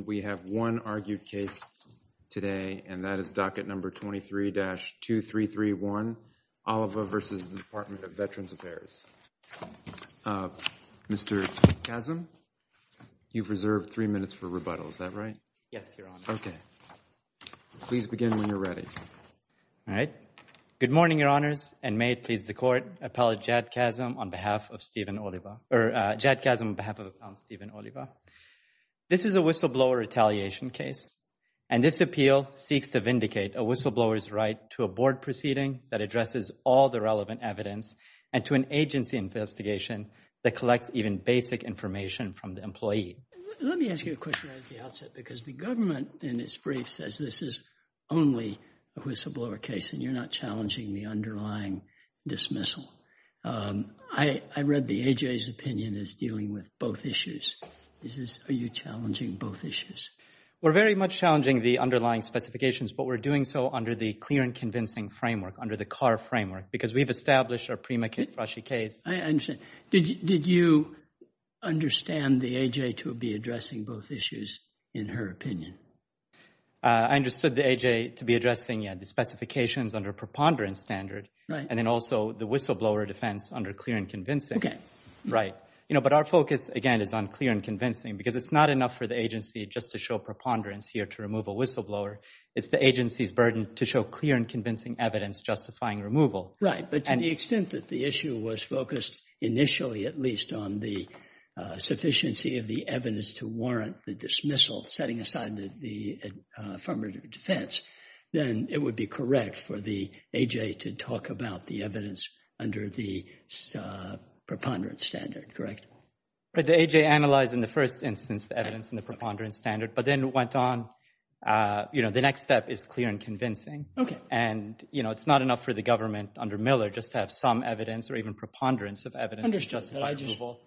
And we have one argued case today, and that is docket number 23-2331, Oliva v. Department of Veterans Affairs. Mr. Kazem, you've reserved three minutes for rebuttal, is that right? Yes, Your Honor. Okay. Please begin when you're ready. All right. Good morning, Your Honors, and may it please the Court, Appellate Jad Kazem on behalf of Stephen Oliva. Or, Jad Kazem on behalf of Stephen Oliva. This is a whistleblower retaliation case, and this appeal seeks to vindicate a whistleblower's right to a board proceeding that addresses all the relevant evidence, and to an agency investigation that collects even basic information from the employee. Let me ask you a question right at the outset, because the government in its brief says this is only a whistleblower case, and you're not challenging the underlying dismissal. I read the A.J.'s opinion as dealing with both issues. Are you challenging both issues? We're very much challenging the underlying specifications, but we're doing so under the clear and convincing framework, under the CAR framework, because we've established a prima facie case. I understand. Did you understand the A.J. to be addressing both issues, in her opinion? I understood the A.J. to be addressing the specifications under preponderance standard, and then also the whistleblower defense under clear and convincing. Right. But our focus, again, is on clear and convincing, because it's not enough for the agency just to show preponderance here to remove a whistleblower. It's the agency's burden to show clear and convincing evidence justifying removal. Right. But to the extent that the issue was focused initially, at least, on the sufficiency of the evidence to warrant the dismissal, setting aside the affirmative defense, then it would be correct for the A.J. to talk about the evidence under the preponderance standard, correct? But the A.J. analyzed, in the first instance, the evidence in the preponderance standard, but then went on. You know, the next step is clear and convincing. Okay. And, you know, it's not enough for the government under Miller just to have some evidence or even preponderance of evidence to justify removal.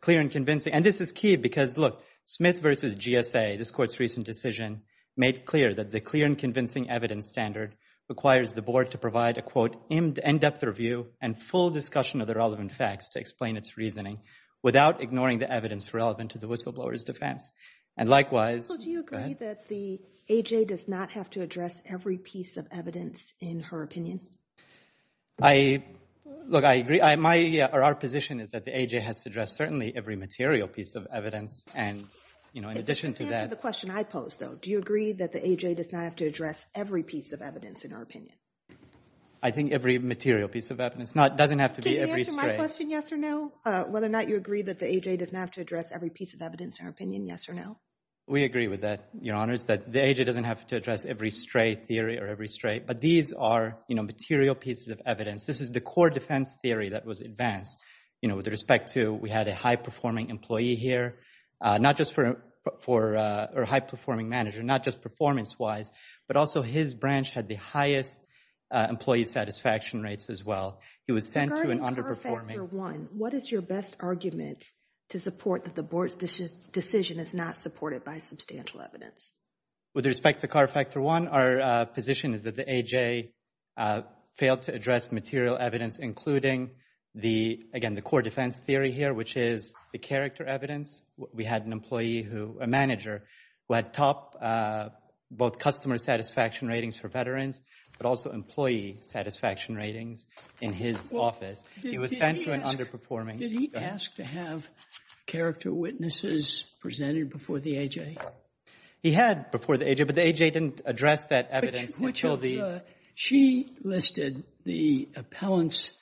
Clear and convincing. And this is key because, look, Smith v. GSA, this Court's recent decision, made clear that the clear and convincing evidence standard requires the Board to provide a, quote, in-depth review and full discussion of the relevant facts to explain its reasoning without ignoring the evidence relevant to the whistleblower's defense. And likewise— So do you agree that the A.J. does not have to address every piece of evidence, in her opinion? I—look, I agree. My—or our position is that the A.J. has to address certainly every material piece of evidence. And, you know, in addition to that— The A.J. does not have to address every piece of evidence, in her opinion. I think every material piece of evidence. It doesn't have to be every stray. Can you answer my question, yes or no? Whether or not you agree that the A.J. does not have to address every piece of evidence, in her opinion, yes or no? We agree with that, Your Honors, that the A.J. doesn't have to address every stray theory or every stray. But these are, you know, material pieces of evidence. This is the core defense theory that was advanced, you know, with respect to we had a high-performing employee here, not just for—or a high-performing manager, not just performance-wise, but also his branch had the highest employee satisfaction rates as well. He was sent to an underperforming— Regarding CAR Factor I, what is your best argument to support that the Board's decision is not supported by substantial evidence? With respect to CAR Factor I, our position is that the A.J. failed to address material evidence including the—again, the core defense theory here, which is the character evidence. We had an employee who—a manager who had top both customer satisfaction ratings for veterans, but also employee satisfaction ratings in his office. He was sent to an underperforming— Did he ask to have character witnesses presented before the A.J.? He had before the A.J., but the A.J. didn't address that evidence until the— She listed the appellant's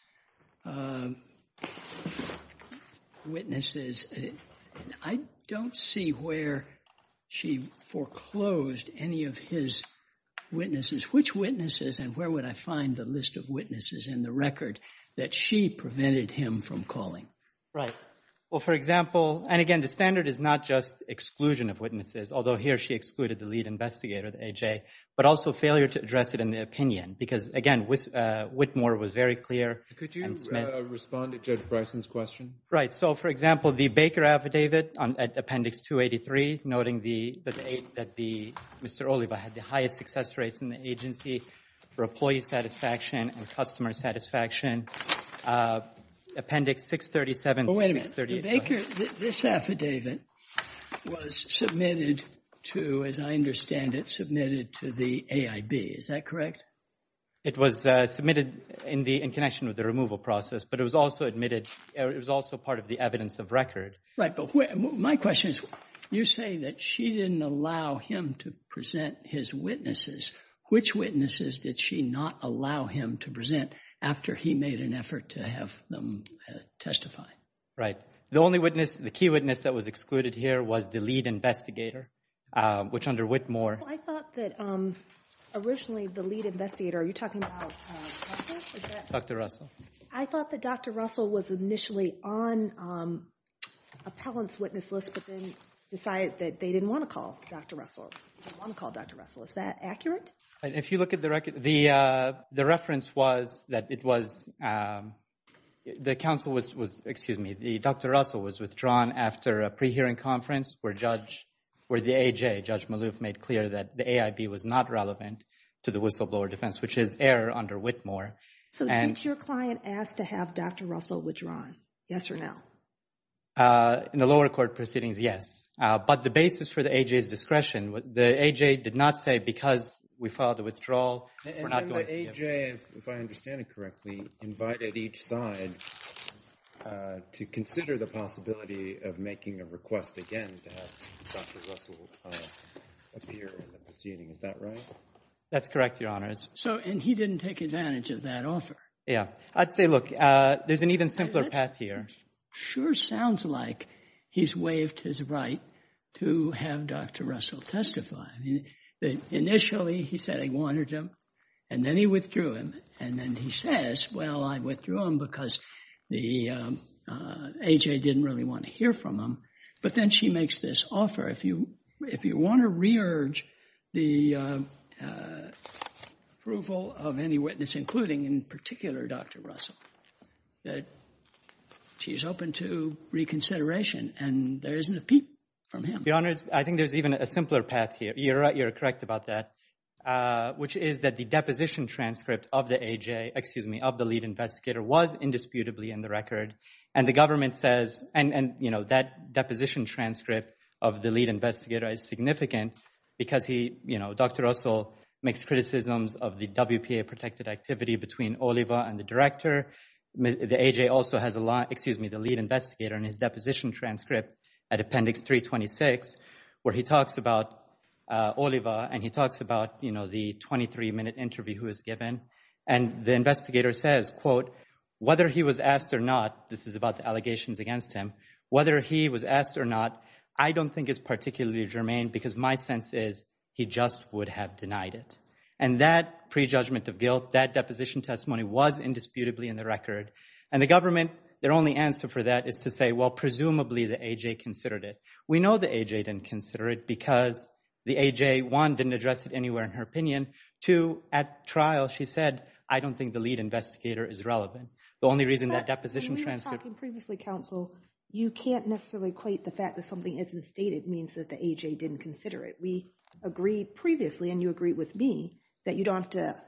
witnesses. I don't see where she foreclosed any of his witnesses. Which witnesses and where would I find the list of witnesses in the record that she prevented him from calling? Right. Well, for example—and again, the standard is not just exclusion of witnesses, although here she excluded the lead investigator, the A.J., but also failure to address it in the opinion because, again, Whitmore was very clear and Smith— Could you respond to Judge Bryson's question? Right. So, for example, the Baker Affidavit at Appendix 283 noting that the—Mr. Oliva had the highest success rates in the agency for employee satisfaction and customer satisfaction. Appendix 637— Mr. Baker, this affidavit was submitted to, as I understand it, submitted to the AIB. Is that correct? It was submitted in connection with the removal process, but it was also admitted—it was also part of the evidence of record. Right, but my question is, you say that she didn't allow him to present his witnesses. Which witnesses did she not allow him to present after he made an effort to have them testify? Right. The only witness—the key witness that was excluded here was the lead investigator, which under Whitmore— I thought that originally the lead investigator—are you talking about Russell? Dr. Russell. I thought that Dr. Russell was initially on appellant's witness list, but then decided that they didn't want to call Dr. Russell. They didn't want to call Dr. Russell. Is that accurate? If you look at the record, the reference was that it was—the counsel was—excuse me, Dr. Russell was withdrawn after a pre-hearing conference where the AJ, Judge Maloof, made clear that the AIB was not relevant to the whistleblower defense, which is error under Whitmore. So did your client ask to have Dr. Russell withdrawn, yes or no? In the lower court proceedings, yes, but the basis for the AJ's discretion—the AJ did not say, because we filed a withdrawal, we're not going to— And then the AJ, if I understand it correctly, invited each side to consider the possibility of making a request again to have Dr. Russell appear in the proceeding. Is that right? That's correct, Your Honors. So—and he didn't take advantage of that offer? Yeah. I'd say, look, there's an even simpler path here. It sure sounds like he's waived his right to have Dr. Russell testify. Initially, he said he wanted him, and then he withdrew him, and then he says, well, I withdrew him because the AJ didn't really want to hear from him. But then she makes this offer. If you want to re-urge the approval of any witness, including in particular Dr. Russell, she's open to reconsideration, and there isn't a peep from him. Your Honors, I think there's even a simpler path here. You're right. You're correct about that, which is that the deposition transcript of the AJ—excuse me, of the lead investigator was indisputably in the record, and the government says—and, you know, that deposition transcript of the lead investigator is significant because he, you know, Dr. Russell makes criticisms of the WPA-protected activity between Oliva and the director. The AJ also has a lot—excuse me, the lead investigator in his deposition transcript at Appendix 326 where he talks about Oliva, and he talks about, you know, the 23-minute interview he was given. And the investigator says, quote, whether he was asked or not—this is about the allegations against him—whether he was asked or not, I don't think is particularly germane because my sense is he just would have denied it. And that prejudgment of guilt, that deposition testimony was indisputably in the record. And the government, their only answer for that is to say, well, presumably the AJ considered it. We know the AJ didn't consider it because the AJ, one, didn't address it anywhere in her opinion. Two, at trial she said, I don't think the lead investigator is relevant. The only reason that deposition transcript— But when we were talking previously, counsel, you can't necessarily equate the fact that something isn't stated means that the AJ didn't consider it. We agreed previously, and you agreed with me, that you don't have to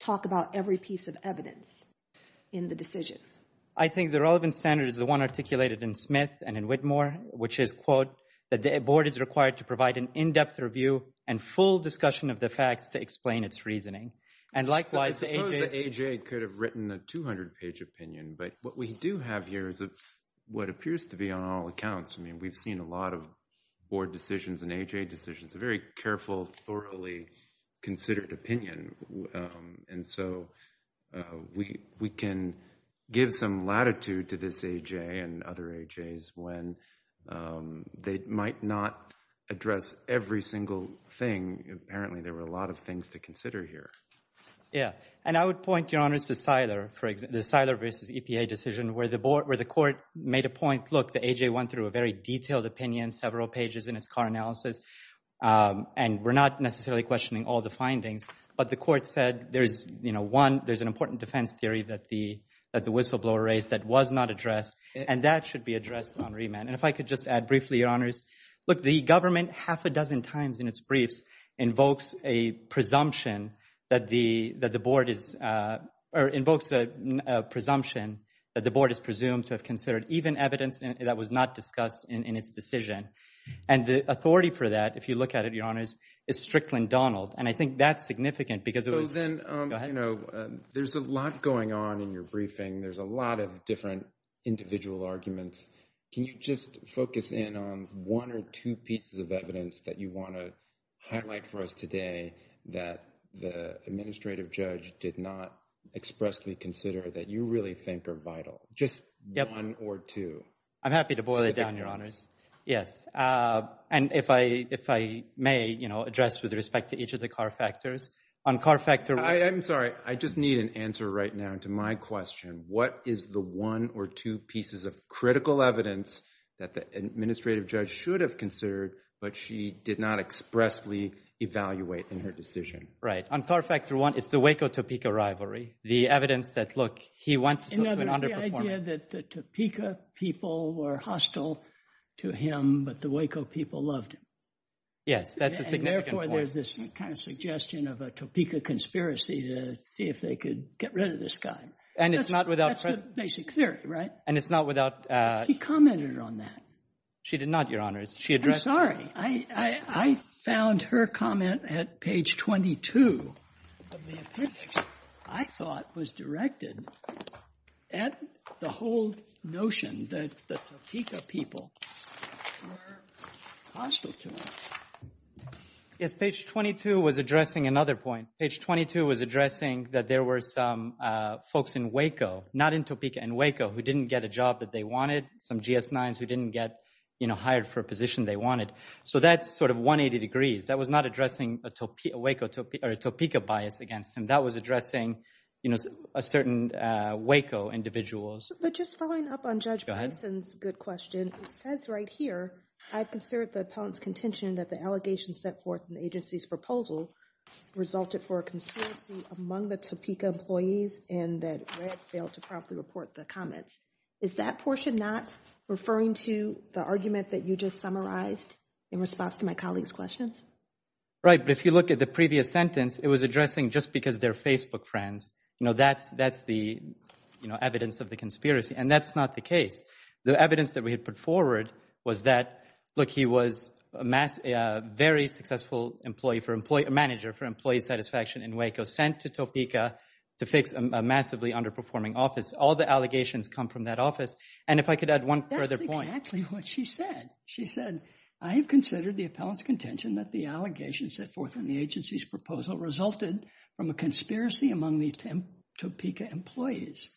talk about every piece of evidence in the decision. I think the relevant standard is the one articulated in Smith and in Whitmore, which is, quote, that the board is required to provide an in-depth review and full discussion of the facts to explain its reasoning. And likewise, the AJ— I suppose the AJ could have written a 200-page opinion, but what we do have here is what appears to be on all accounts. I mean, we've seen a lot of board decisions and AJ decisions, a very careful, thoroughly considered opinion. And so we can give some latitude to this AJ and other AJs when they might not address every single thing. Apparently, there were a lot of things to consider here. Yeah. And I would point, Your Honors, to Siler, for example, the Siler v. EPA decision, where the board—where the court made a point, look, the AJ went through a very detailed opinion, several pages in its car analysis, and we're not necessarily questioning all the findings. But the court said there's, you know, one—there's an important defense theory that the whistleblower raised that was not addressed, and that should be addressed on remand. And if I could just add briefly, Your Honors, look, the government half a dozen times in its briefs invokes a presumption that the board is—or invokes a presumption that the board is presumed to have considered even evidence that was not discussed in its decision. And the authority for that, if you look at it, Your Honors, is Strickland-Donald. And I think that's significant because it was— So then— Go ahead. You know, there's a lot going on in your briefing. There's a lot of different individual arguments. Can you just focus in on one or two pieces of evidence that you want to highlight for us today that the administrative judge did not expressly consider that you really think are vital? Just one or two. I'm happy to boil it down, Your Honors. Yes. And if I may, you know, address with respect to each of the car factors. On car factor— I'm sorry. I just need an answer right now to my question. What is the one or two pieces of critical evidence that the administrative judge should have considered, but she did not expressly evaluate in her decision? Right. On car factor one, it's the Waco-Topeka rivalry. The evidence that, look, he went to an underperforming— In other words, the idea that the Topeka people were hostile to him, but the Waco people loved him. Yes. That's a significant point. And therefore, there's this kind of suggestion of a Topeka conspiracy to see if they could get rid of this guy. And it's not without— That's the basic theory, right? And it's not without— She commented on that. She did not, Your Honors. She addressed— I'm sorry. I found her comment at page 22 of the appendix, I thought, was directed at the whole notion that the Topeka people were hostile to him. Yes. Page 22 was addressing another point. Page 22 was addressing that there were some folks in Waco, not in Topeka, in Waco who didn't get a job that they wanted, some GS-9s who didn't get hired for a position they wanted. So that's sort of 180 degrees. That was not addressing a Topeka bias against him. That was addressing a certain Waco individuals. But just following up on Judge Bryson's good question, it says right here, I've considered the appellant's contention that the allegations set forth in the agency's proposal resulted for a conspiracy among the Topeka employees and that Red failed to properly report the comments. Is that portion not referring to the argument that you just summarized in response to my colleague's questions? Right. But if you look at the previous sentence, it was addressing just because they're Facebook friends, you know, that's the evidence of the conspiracy. And that's not the case. The evidence that we had put forward was that, look, he was a very successful manager for employee satisfaction in Waco, sent to Topeka to fix a massively underperforming All the allegations come from that office. And if I could add one further point. That's exactly what she said. She said, I have considered the appellant's contention that the allegations set forth in the agency's proposal resulted from a conspiracy among the Topeka employees.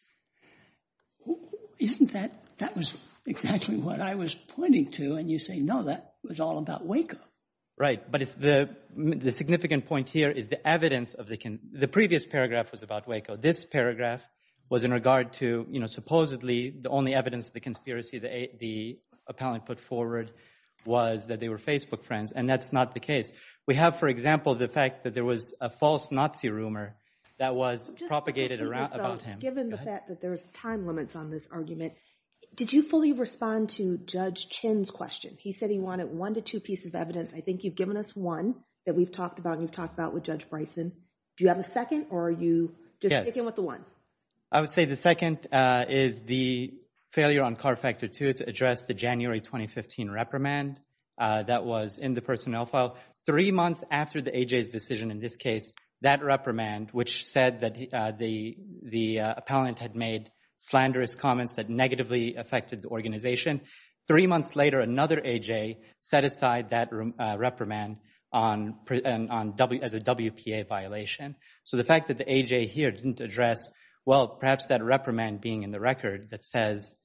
Isn't that? That was exactly what I was pointing to. And you say, no, that was all about Waco. Right. But the significant point here is the evidence of the previous paragraph was about Waco. This paragraph was in regard to, you know, supposedly the only evidence of the conspiracy the appellant put forward was that they were Facebook friends. And that's not the case. We have, for example, the fact that there was a false Nazi rumor that was propagated around him. Given the fact that there's time limits on this argument. Did you fully respond to Judge Chin's question? He said he wanted one to two pieces of evidence. I think you've given us one that we've talked about. You've talked about with Judge Bryson. Do you have a second or are you just sticking with the one? I would say the second is the failure on CAR Factor 2 to address the January 2015 reprimand that was in the personnel file. Three months after the AJ's decision in this case, that reprimand, which said that the appellant had made slanderous comments that negatively affected the organization. Three months later, another AJ set aside that reprimand as a WPA violation. So the fact that the AJ here didn't address, well, perhaps that reprimand being in the record that says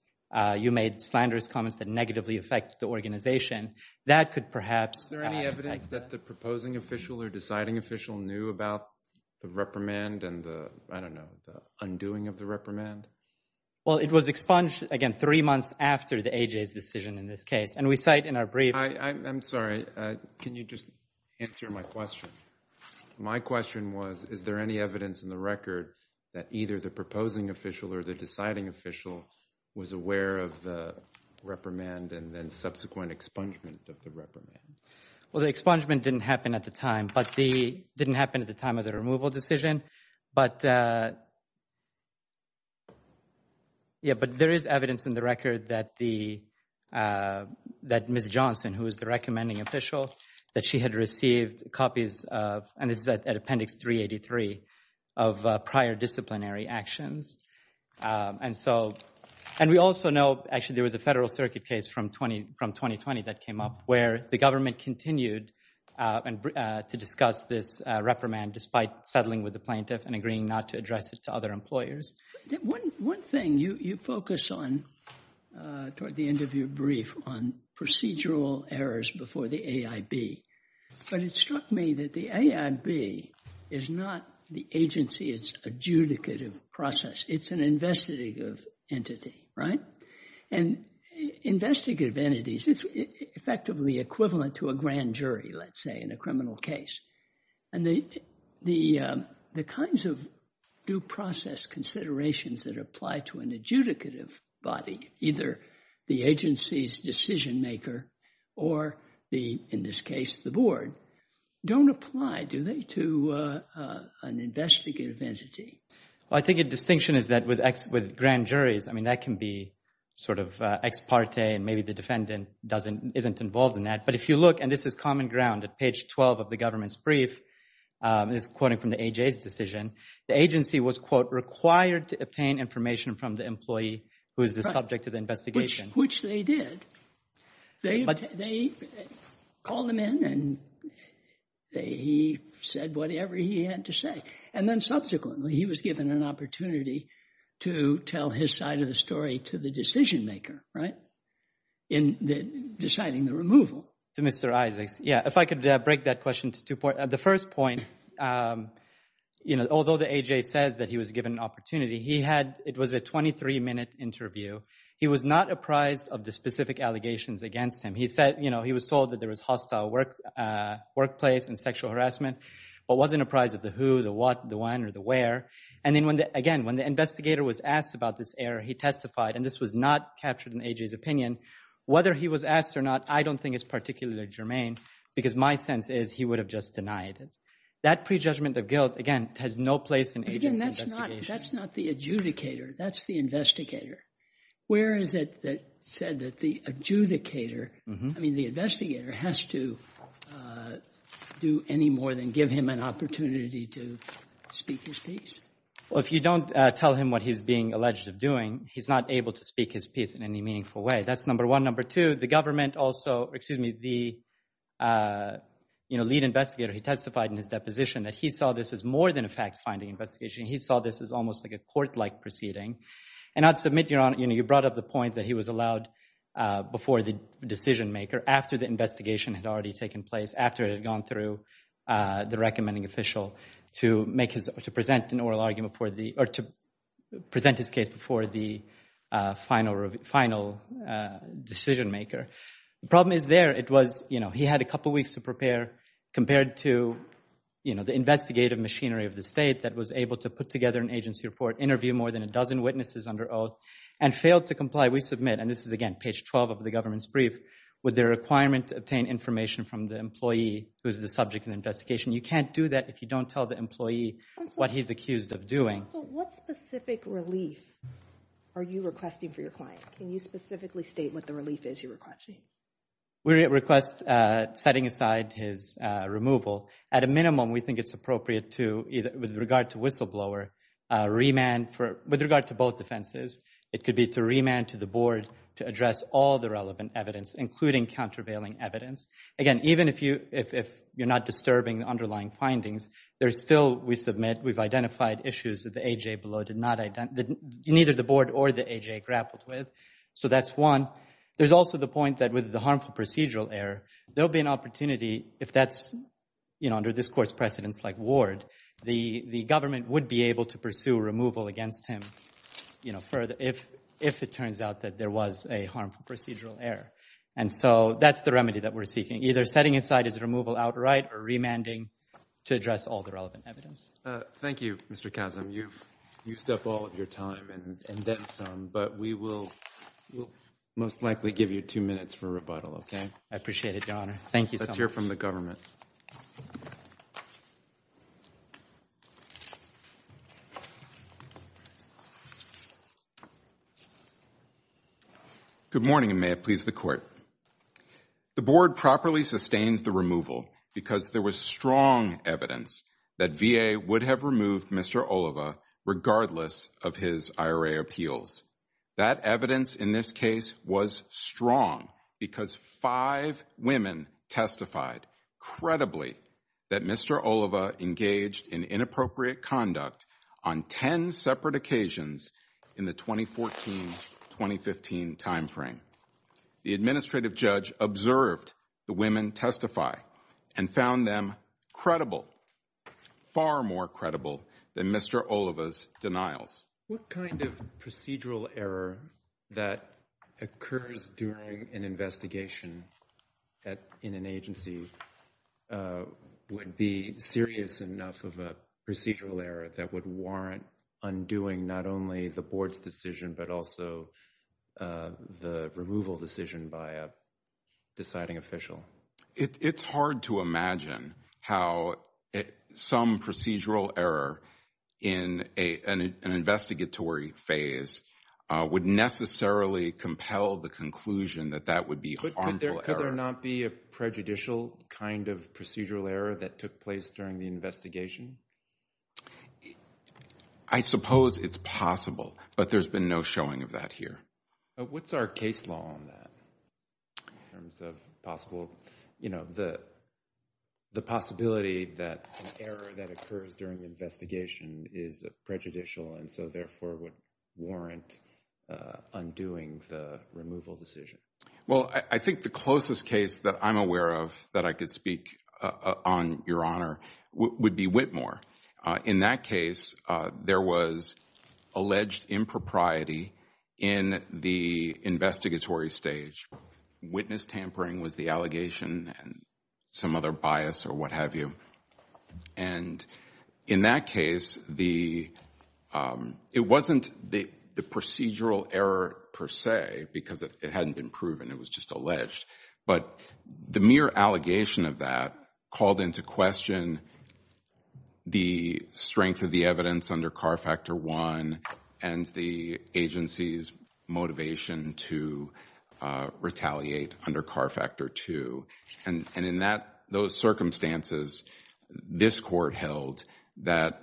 you made slanderous comments that negatively affect the organization. That could perhaps... Is there any evidence that the proposing official or deciding official knew about the reprimand and the, I don't know, the undoing of the reprimand? Well, it was expunged, again, three months after the AJ's decision in this case. And we cite in our brief... I'm sorry. Can you just answer my question? My question was, is there any evidence in the record that either the proposing official or the deciding official was aware of the reprimand and then subsequent expungement of the reprimand? Well, the expungement didn't happen at the time, but the... Didn't happen at the time of the removal decision. But... Yeah, but there is evidence in the record that the... That Ms. Johnson, who is the recommending official, that she had received copies of... And this is at Appendix 383 of prior disciplinary actions. And so... And we also know, actually, there was a Federal Circuit case from 2020 that came up where the government continued to discuss this reprimand despite settling with the plaintiff and agreeing not to address it to other employers. One thing, you focus on, toward the end of your brief, on procedural errors before the AIB. But it struck me that the AIB is not the agency's adjudicative process. It's an investigative entity, right? And investigative entities, it's effectively equivalent to a grand jury, let's say, in a criminal case. And the kinds of due process considerations that apply to an adjudicative body, either the agency's decision maker, or the, in this case, the board, don't apply, do they, to an investigative entity? Well, I think a distinction is that with grand juries, I mean, that can be sort of ex parte, and maybe the defendant isn't involved in that. But if you look, and this is common ground, at page 12 of the government's brief, it's quoting from the AJA's decision, the agency was, quote, from the employee who is the subject of the investigation. Which they did. They called him in, and he said whatever he had to say. And then subsequently, he was given an opportunity to tell his side of the story to the decision maker, right, in deciding the removal. To Mr. Isaacs, yeah. If I could break that question to two points. The first point, you know, although the AJA says that he was given an opportunity, he had, it was a 23-minute interview. He was not apprised of the specific allegations against him. He said, you know, he was told that there was hostile workplace and sexual harassment, but wasn't apprised of the who, the what, the when, or the where. And then, again, when the investigator was asked about this error, he testified, and this was not captured in AJA's opinion. Whether he was asked or not, I don't think is particularly germane, because my sense is he would have just denied it. That prejudgment of guilt, again, has no place in AJA's investigation. That's not the adjudicator. That's the investigator. Where is it that said that the adjudicator, I mean the investigator, has to do any more than give him an opportunity to speak his piece? Well, if you don't tell him what he's being alleged of doing, he's not able to speak his piece in any meaningful way. That's number one. Number two, the government also, excuse me, the lead investigator, he testified in his deposition that he saw this as more than a fact-finding investigation. He saw this as almost like a court-like proceeding. And I'd submit, Your Honor, you brought up the point that he was allowed, before the decision-maker, after the investigation had already taken place, after it had gone through the recommending official, to present his case before the final decision-maker. The problem is there, it was he had a couple weeks to prepare, compared to the investigative machinery of the state that was able to put together an agency report, interview more than a dozen witnesses under oath, and failed to comply. We submit, and this is, again, page 12 of the government's brief, with the requirement to obtain information from the employee who is the subject of the investigation. You can't do that if you don't tell the employee what he's accused of doing. So what specific relief are you requesting for your client? Can you specifically state what the relief is you're requesting? We request setting aside his removal. At a minimum, we think it's appropriate to, with regard to whistleblower, remand for, with regard to both defenses, it could be to remand to the board to address all the relevant evidence, including countervailing evidence. Again, even if you're not disturbing the underlying findings, there's still, we submit, we've identified issues that the A.J. below did not, neither the board or the A.J. grappled with. So that's one. There's also the point that with the harmful procedural error, there'll be an opportunity, if that's, you know, under this court's precedence, like Ward, the government would be able to pursue removal against him, you know, if it turns out that there was a harmful procedural error. And so that's the remedy that we're seeking, either setting aside his removal outright or remanding to address all the relevant evidence. Thank you, Mr. Kazem. You've used up all of your time and then some, but we will most likely give you two minutes for rebuttal, okay? I appreciate it, Your Honor. Thank you so much. Let's hear from the government. Good morning, and may it please the court. The board properly sustained the removal because there was strong evidence that V.A. would have removed Mr. Oliva regardless of his IRA appeals. That evidence in this case was strong because five women testified credibly that Mr. Oliva engaged in inappropriate conduct on 10 separate occasions in the 2014-2015 timeframe. The administrative judge observed the women testify and found them credible, far more credible than Mr. Oliva's denials. What kind of procedural error that occurs during an investigation in an agency would be serious enough of a procedural error that would warrant undoing not only the board's decision but also the removal decision by a deciding official? It's hard to imagine how some procedural error in an investigatory phase would necessarily compel the conclusion that that would be harmful error. Could there not be a prejudicial kind of procedural error that took place during the investigation? I suppose it's possible, but there's been no showing of that here. What's our case law on that in terms of possible, you know, the possibility that an error that occurs during the investigation is prejudicial and so therefore would warrant undoing the removal decision? Well, I think the closest case that I'm aware of that I could speak on, Your Honor, would be Whitmore. In that case, there was alleged impropriety in the investigatory stage. Witness tampering was the allegation and some other bias or what have you. And in that case, it wasn't the procedural error per se because it hadn't been proven. It was just alleged. But the mere allegation of that called into question the strength of the evidence under CAR Factor I and the agency's motivation to retaliate under CAR Factor II. And in that, those circumstances, this court held that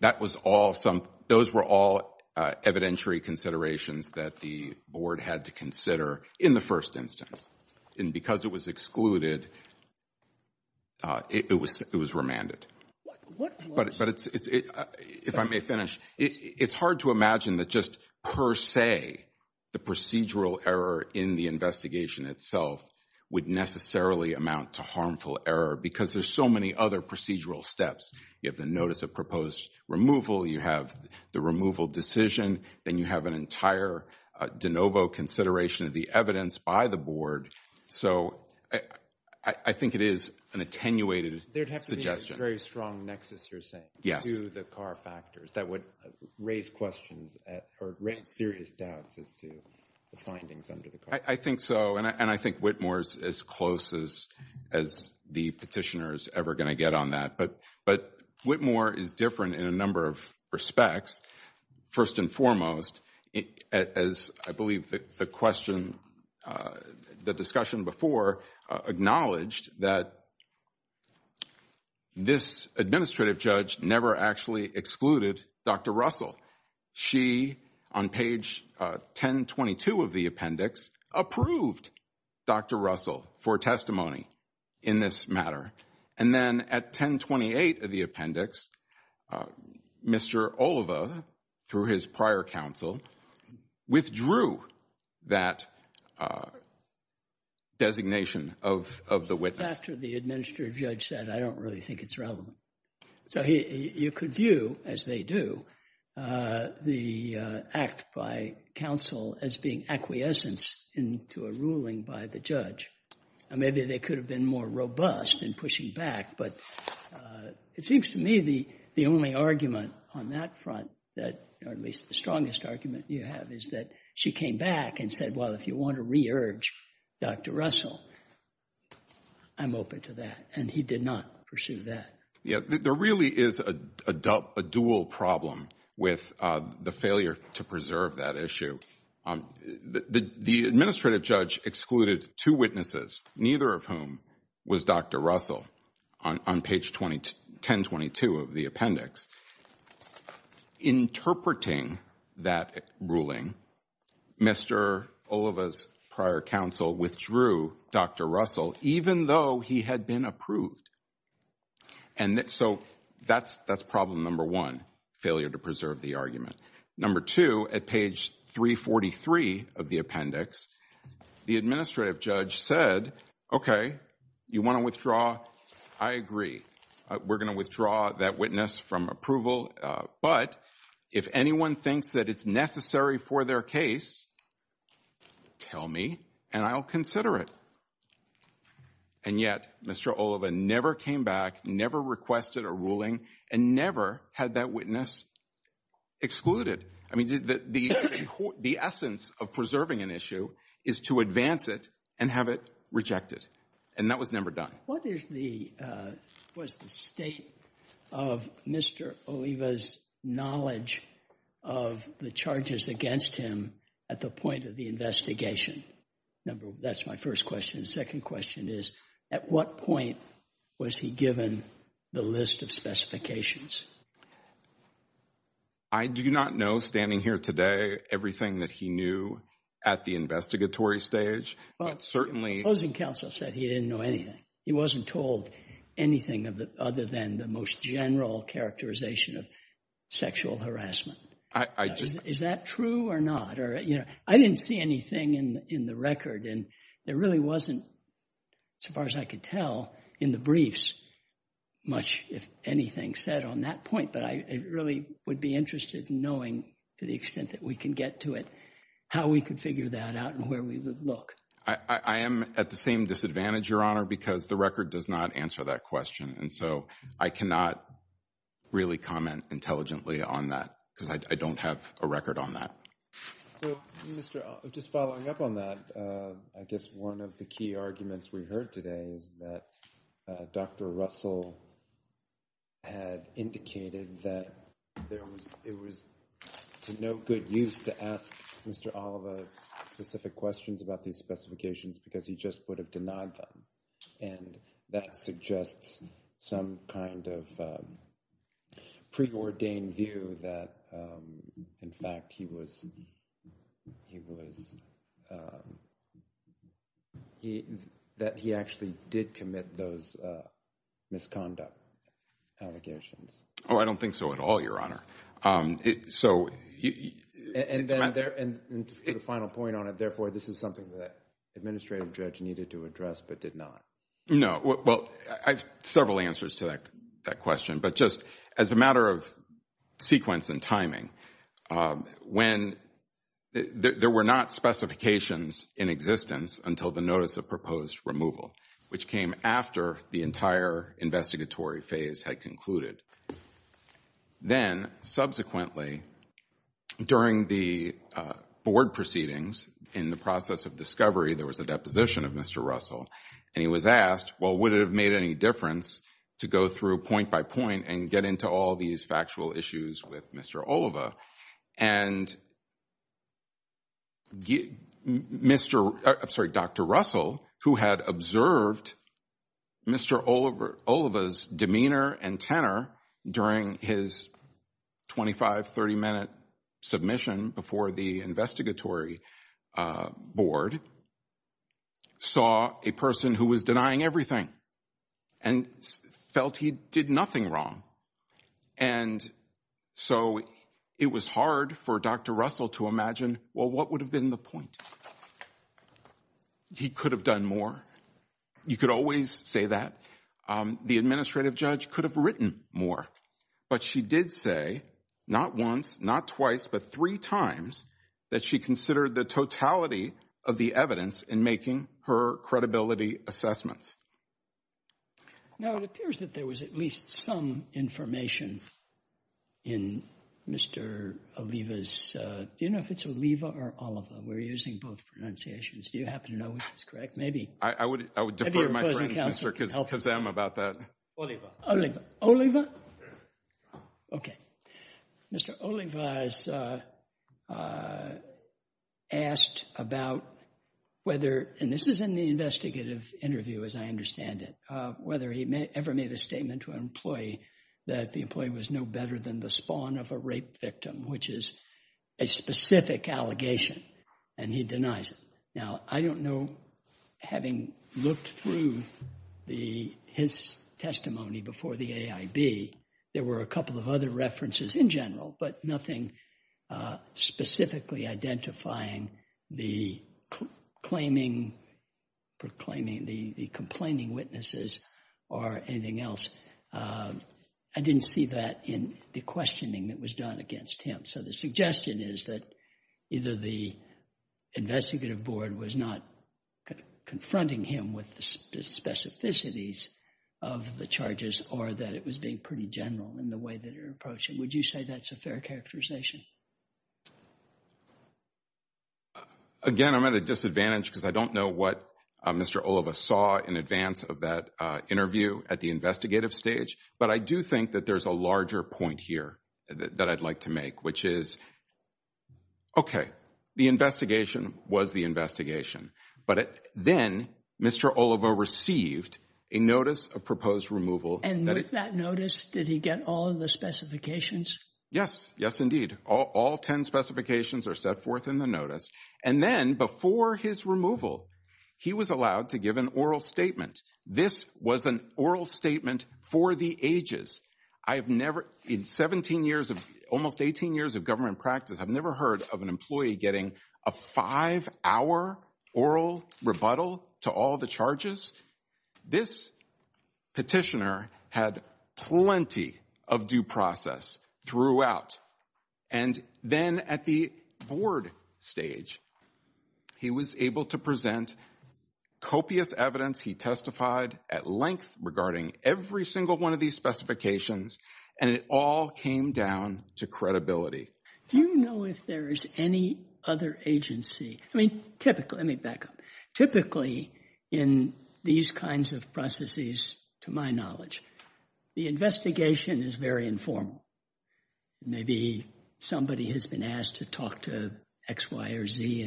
that was all some, those were all evidentiary considerations that the board had to consider in the first instance. And because it was excluded, it was remanded. But if I may finish, it's hard to imagine that just per se, the procedural error in the investigation itself would necessarily amount to harmful error because there's so many other procedural steps. You have the notice of proposed removal. You have the removal decision. Then you have an entire de novo consideration of the evidence by the board. So I think it is an attenuated suggestion. There would have to be a very strong nexus, you're saying, to the CAR factors that would raise questions or raise serious doubts as to the findings under the CAR. I think so. And I think Whitmore is as close as the petitioner is ever going to get on that. But Whitmore is different in a number of respects. First and foremost, as I believe the question, the discussion before, acknowledged that this administrative judge never actually excluded Dr. Russell. She, on page 1022 of the appendix, approved Dr. Russell for testimony in this matter. And then at 1028 of the appendix, Mr. Oliva, through his prior counsel, withdrew that designation of the witness. After the administrative judge said, I don't really think it's relevant. So you could view, as they do, the act by counsel as being acquiescence into a ruling by the judge. Maybe they could have been more robust in pushing back. But it seems to me the only argument on that front, or at least the strongest argument you have, is that she came back and said, well, if you want to re-urge Dr. Russell, I'm open to that. And he did not pursue that. There really is a dual problem with the failure to preserve that issue. The administrative judge excluded two witnesses, neither of whom was Dr. Russell, on page 1022 of the appendix. Interpreting that ruling, Mr. Oliva's prior counsel withdrew Dr. Russell, even though he had been approved. And so that's problem number one, failure to preserve the argument. Number two, at page 343 of the appendix, the administrative judge said, OK, you want to withdraw? I agree. We're going to withdraw that witness from approval. But if anyone thinks that it's necessary for their case, tell me and I'll consider it. And yet Mr. Oliva never came back, never requested a ruling, and never had that witness excluded. I mean, the essence of preserving an issue is to advance it and have it rejected. And that was never done. What is the state of Mr. Oliva's knowledge of the charges against him at the point of the investigation? That's my first question. The second question is, at what point was he given the list of specifications? I do not know, standing here today, everything that he knew at the investigatory stage, but certainly— The opposing counsel said he didn't know anything. He wasn't told anything other than the most general characterization of sexual harassment. Is that true or not? I didn't see anything in the record. And there really wasn't, so far as I could tell, in the briefs much, if anything, said on that point. But I really would be interested in knowing, to the extent that we can get to it, how we could figure that out and where we would look. I am at the same disadvantage, Your Honor, because the record does not answer that question. And so I cannot really comment intelligently on that because I don't have a record on that. So, Mr. Oliva, just following up on that, I guess one of the key arguments we heard today is that Dr. Russell had indicated that it was to no good use to ask Mr. Oliva specific questions about these specifications because he just would have denied them. And that suggests some kind of preordained view that, in fact, he was—that he actually did commit those misconduct allegations. Oh, I don't think so at all, Your Honor. And the final point on it, therefore, this is something that an administrative judge needed to address but did not. No, well, I have several answers to that question. But just as a matter of sequence and timing, there were not specifications in existence until the notice of proposed removal, which came after the entire investigatory phase had concluded. Then, subsequently, during the board proceedings in the process of discovery, there was a deposition of Mr. Russell. And he was asked, well, would it have made any difference to go through point by point and get into all these factual issues with Mr. Oliva? And Mr.—I'm sorry, Dr. Russell, who had observed Mr. Oliva's demeanor and tenor during his 25, 30-minute submission before the investigatory board, saw a person who was denying everything and felt he did nothing wrong. And so it was hard for Dr. Russell to imagine, well, what would have been the point? He could have done more. You could always say that. The administrative judge could have written more. But she did say, not once, not twice, but three times, that she considered the totality of the evidence in making her credibility assessments. Now, it appears that there was at least some information in Mr. Oliva's—do you know if it's Oliva or Oliva? We're using both pronunciations. Do you happen to know which is correct? Maybe— I would defer to my friends, Mr. Kazama, about that. Oliva? Okay. Mr. Oliva has asked about whether—and this is in the investigative interview, as I understand it—whether he ever made a statement to an employee that the employee was no better than the spawn of a rape victim, which is a specific allegation, and he denies it. Now, I don't know, having looked through his testimony before the AIB, there were a couple of other references in general, but nothing specifically identifying the complaining witnesses or anything else. I didn't see that in the questioning that was done against him. So the suggestion is that either the investigative board was not confronting him with the specificities of the charges or that it was being pretty general in the way that it approached him. Would you say that's a fair characterization? Again, I'm at a disadvantage because I don't know what Mr. Oliva saw in advance of that interview at the investigative stage, but I do think that there's a larger point here that I'd like to make, which is, okay, the investigation was the investigation, but then Mr. Oliva received a notice of proposed removal. And with that notice, did he get all of the specifications? Yes. Yes, indeed. All 10 specifications are set forth in the notice. And then, before his removal, he was allowed to give an oral statement. This was an oral statement for the ages. I've never in 17 years of almost 18 years of government practice, I've never heard of an employee getting a five-hour oral rebuttal to all the charges. This petitioner had plenty of due process throughout. And then at the board stage, he was able to present copious evidence he testified at length regarding every single one of these specifications, and it all came down to credibility. Do you know if there is any other agency, I mean, typically, let me back up, typically in these kinds of processes, to my knowledge, the investigation is very informal. Maybe somebody has been asked to talk to X, Y, or Z,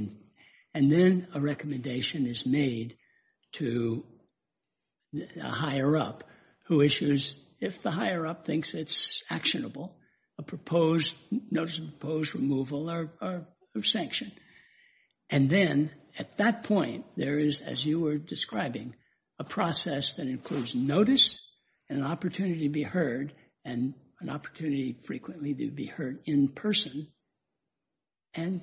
and then a recommendation is made to a higher-up who issues, if the higher-up thinks it's actionable, a notice of proposed removal or sanction. And then, at that point, there is, as you were describing, a process that includes notice, an opportunity to be heard, and an opportunity frequently to be heard in person, and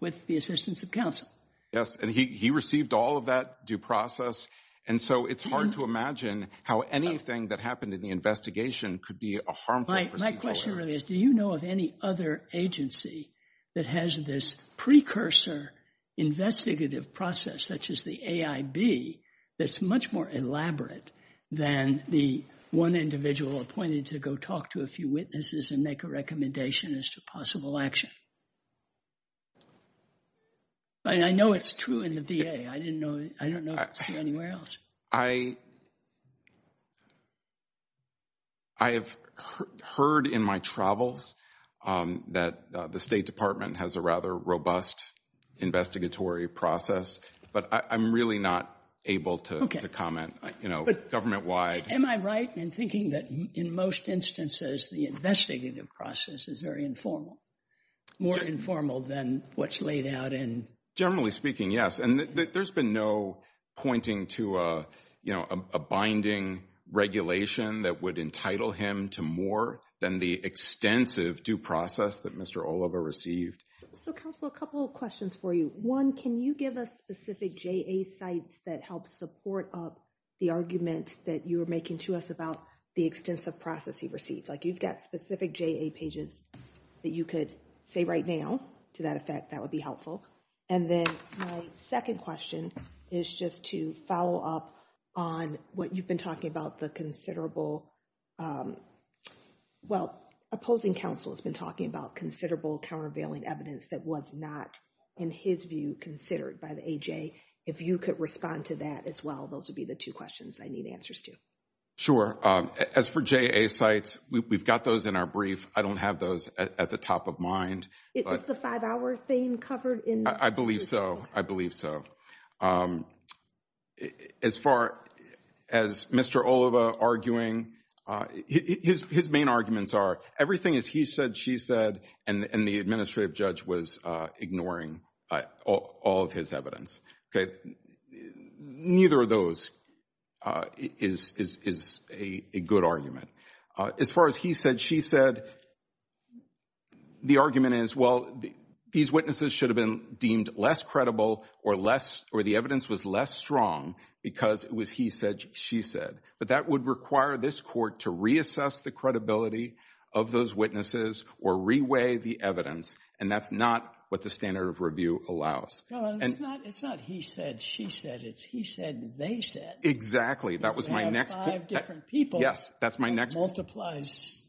with the assistance of counsel. Yes, and he received all of that due process, and so it's hard to imagine how anything that happened in the investigation could be a harmful procedure. My question really is, do you know of any other agency that has this precursor investigative process, such as the AIB, that's much more elaborate than the one individual appointed to go talk to a few witnesses and make a recommendation as to possible action? I know it's true in the VA. I don't know if it's true anywhere else. I have heard in my travels that the State Department has a rather robust investigatory process, but I'm really not able to comment, you know, government-wide. Am I right in thinking that, in most instances, the investigative process is very informal, more informal than what's laid out in— Generally speaking, yes, and there's been no pointing to, you know, a binding regulation that would entitle him to more than the extensive due process that Mr. Oliva received. So, counsel, a couple of questions for you. One, can you give us specific JA sites that help support up the argument that you were making to us about the extensive process he received? Like, you've got specific JA pages that you could say right now, to that effect, that would be helpful. And then my second question is just to follow up on what you've been talking about, the considerable—well, opposing counsel has been talking about considerable countervailing evidence that was not, in his view, considered by the AJ. If you could respond to that as well, those would be the two questions I need answers to. Sure. As for JA sites, we've got those in our brief. I don't have those at the top of mind. Is the five-hour theme covered in— I believe so. I believe so. As far as Mr. Oliva arguing, his main arguments are everything is he said, she said, and the administrative judge was ignoring all of his evidence. Neither of those is a good argument. As far as he said, she said, the argument is, well, these witnesses should have been deemed less credible or the evidence was less strong because it was he said, she said. But that would require this court to reassess the credibility of those witnesses or reweigh the evidence, and that's not what the standard of review allows. It's not he said, she said. It's he said, they said. Exactly. That was my next— You have five different people. Yes, that's my next— That multiplies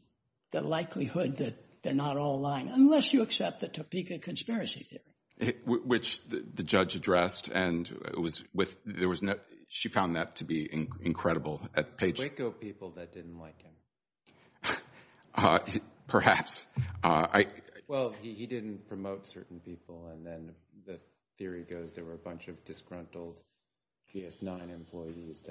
the likelihood that they're not all lying, unless you accept the Topeka conspiracy theory. Which the judge addressed, and it was with—she found that to be incredible. Waco people that didn't like him. Perhaps. Well, he didn't promote certain people, and then the theory goes there were a bunch of disgruntled GS9 employees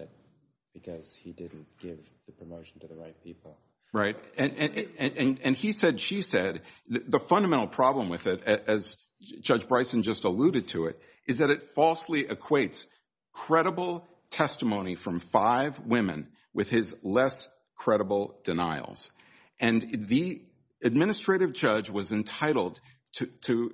because he didn't give the promotion to the right people. Right. And he said, she said. The fundamental problem with it, as Judge Bryson just alluded to it, is that it falsely equates credible testimony from five women with his less credible denials. And the administrative judge was entitled to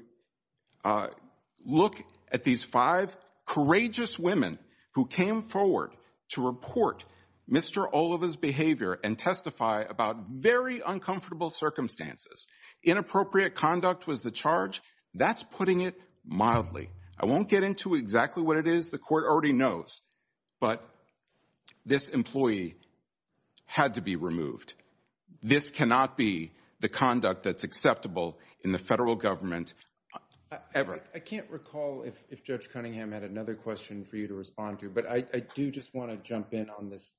look at these five courageous women who came forward to report Mr. Oliva's behavior and testify about very uncomfortable circumstances. Inappropriate conduct was the charge. That's putting it mildly. I won't get into exactly what it is. The court already knows, but this employee had to be removed. This cannot be the conduct that's acceptable in the federal government ever. I can't recall if Judge Cunningham had another question for you to respond to, but I do just want to jump in on this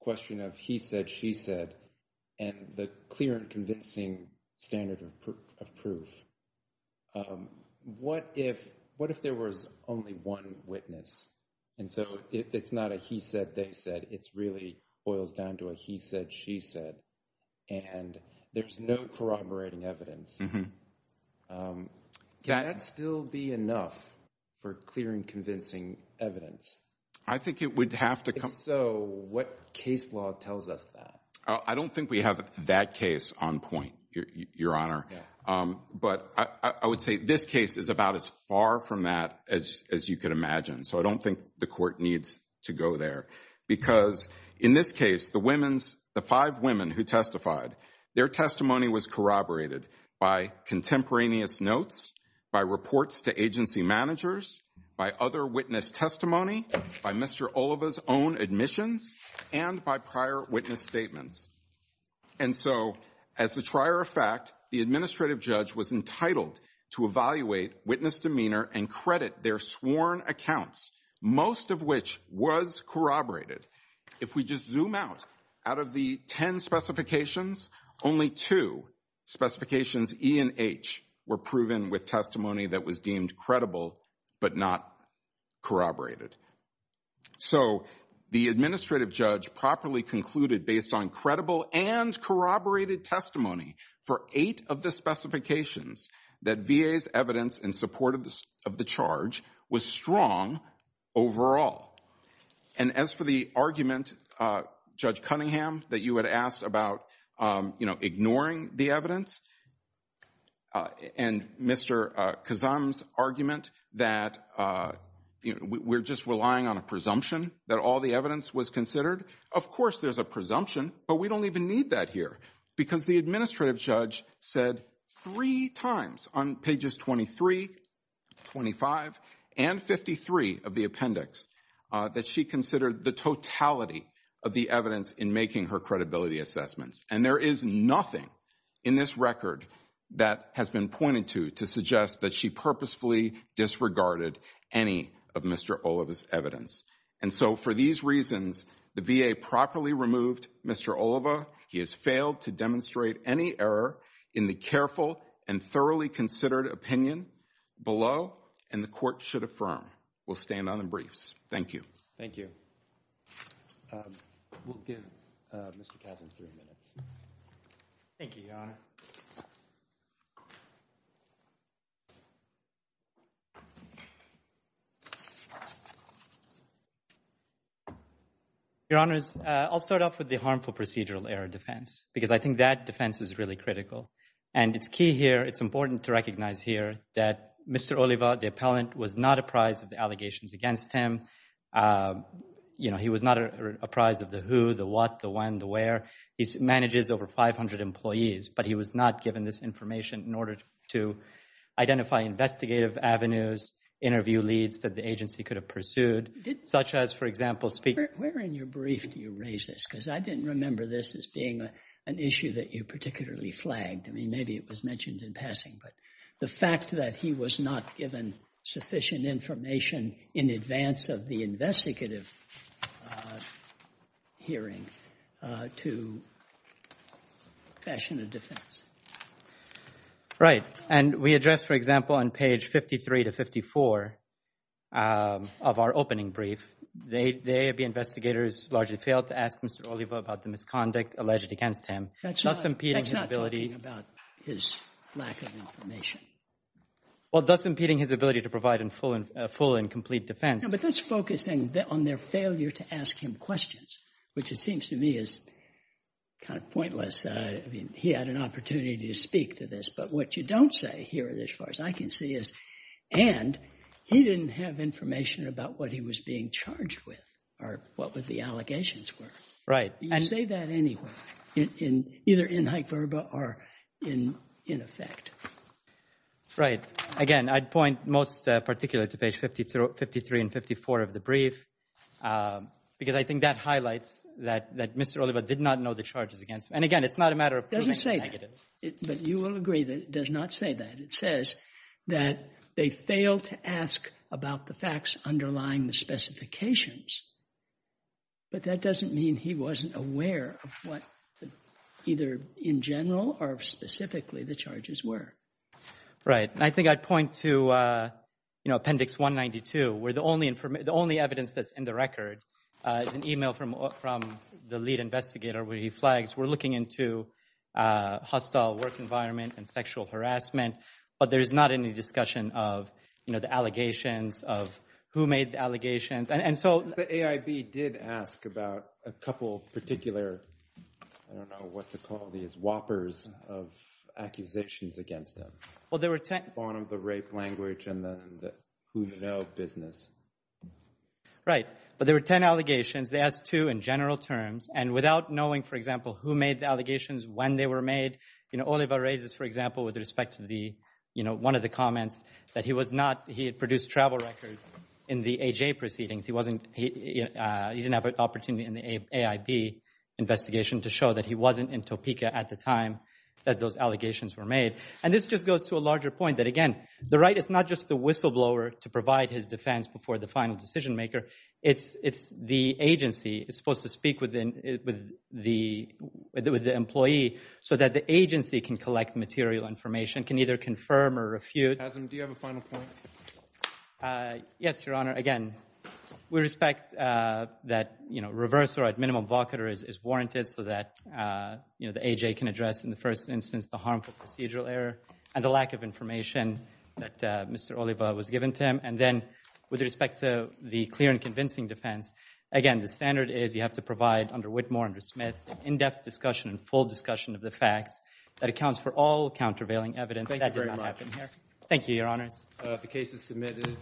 question of he said, she said, and the clear and convincing standard of proof. What if there was only one witness? And so it's not a he said, they said. It really boils down to a he said, she said. And there's no corroborating evidence. Can that still be enough for clear and convincing evidence? I think it would have to come. So what case law tells us that? I don't think we have that case on point, Your Honor. But I would say this case is about as far from that as you could imagine. So I don't think the court needs to go there. Because in this case, the women's, the five women who testified, their testimony was corroborated by contemporaneous notes, by reports to agency managers, by other witness testimony, by Mr. Oliva's own admissions, and by prior witness statements. And so as the trier of fact, the administrative judge was entitled to evaluate witness demeanor and credit their sworn accounts, most of which was corroborated. If we just zoom out out of the 10 specifications, only two specifications E and H were proven with testimony that was deemed credible, but not corroborated. So the administrative judge properly concluded based on credible and corroborated testimony for eight of the specifications that VA's evidence in support of the charge was strong overall. And as for the argument, Judge Cunningham, that you had asked about ignoring the evidence and Mr. Kazam's argument that we're just relying on a presumption that all the evidence was considered. Of course, there's a presumption, but we don't even need that here. Because the administrative judge said three times on pages 23, 25, and 53 of the appendix that she considered the totality of the evidence in making her credibility assessments. And there is nothing in this record that has been pointed to, to suggest that she purposefully disregarded any of Mr. Oliva's evidence. And so for these reasons, the VA properly removed Mr. Oliva. He has failed to demonstrate any error in the careful and thoroughly considered opinion below, and the court should affirm. We'll stand on the briefs. Thank you. Thank you. We'll give Mr. Kazam three minutes. Thank you, Your Honor. Your Honors, I'll start off with the harmful procedural error defense, because I think that defense is really critical. And it's key here, it's important to recognize here that Mr. Oliva, the appellant, was not apprised of the allegations against him. He was not apprised of the who, the what, the when, the where. He manages over 500 employees, but he was not given this information in order to identify investigative avenues, interview leads that the agency could have pursued, such as, for example, speak. Where in your brief do you raise this? Because I didn't remember this as being an issue that you particularly flagged. I mean, maybe it was mentioned in passing, but the fact that he was not given sufficient information in advance of the action of defense. Right. And we address, for example, on page 53 to 54 of our opening brief, the AAB investigators largely failed to ask Mr. Oliva about the misconduct alleged against him. That's not talking about his lack of information. Well, thus impeding his ability to provide a full and complete defense. No, but that's focusing on their failure to ask him questions, which it seems to me is kind of pointless. I mean, he had an opportunity to speak to this, but what you don't say here as far as I can see is, and he didn't have information about what he was being charged with or what the allegations were. Right. You say that anywhere, either in hyperbole or in effect. Right. Again, I'd point most particularly to page 53 and 54 of the brief, because I think that highlights that Mr. Oliva did not know the charges against him. And again, it's not a matter of putting a negative. It doesn't say that, but you will agree that it does not say that. It says that they failed to ask about the facts underlying the specifications, but that doesn't mean he wasn't aware of what either in general or specifically the charges were. Right. And I think I'd point to, you know, any evidence that's in the record is an email from the lead investigator where he flags, we're looking into a hostile work environment and sexual harassment, but there's not any discussion of, you know, the allegations of who made the allegations. And so the AIB did ask about a couple of particular, I don't know what to call these whoppers of accusations against them. Well, there were 10. At the bottom of the rape language and the who you know business. Right. But there were 10 allegations. They asked two in general terms and without knowing, for example, who made the allegations when they were made, you know, Oliva raises, for example, with respect to the, you know, one of the comments that he was not, he had produced travel records in the AJ proceedings. He wasn't, he didn't have an opportunity in the AIB investigation to show that he wasn't in Topeka at the time that those allegations were made. And this just goes to a larger point that, again, the right, it's not just the whistleblower to provide his defense before the final decision maker. It's, it's, the agency is supposed to speak with the, with the, with the employee so that the agency can collect material information, can either confirm or refute. Do you have a final point? Yes, Your Honor. Again, we respect that, you know, reverse or at minimum blocker is warranted so that, you know, the AJ can address in the first instance, the harmful procedural error and the lack of information that Mr. Oliva was given to him. And then with respect to the clear and convincing defense, again, the standard is you have to provide under Whitmore, under Smith in-depth discussion and full discussion of the facts that accounts for all countervailing evidence that did not happen here. Thank you, Your Honors. The case is submitted.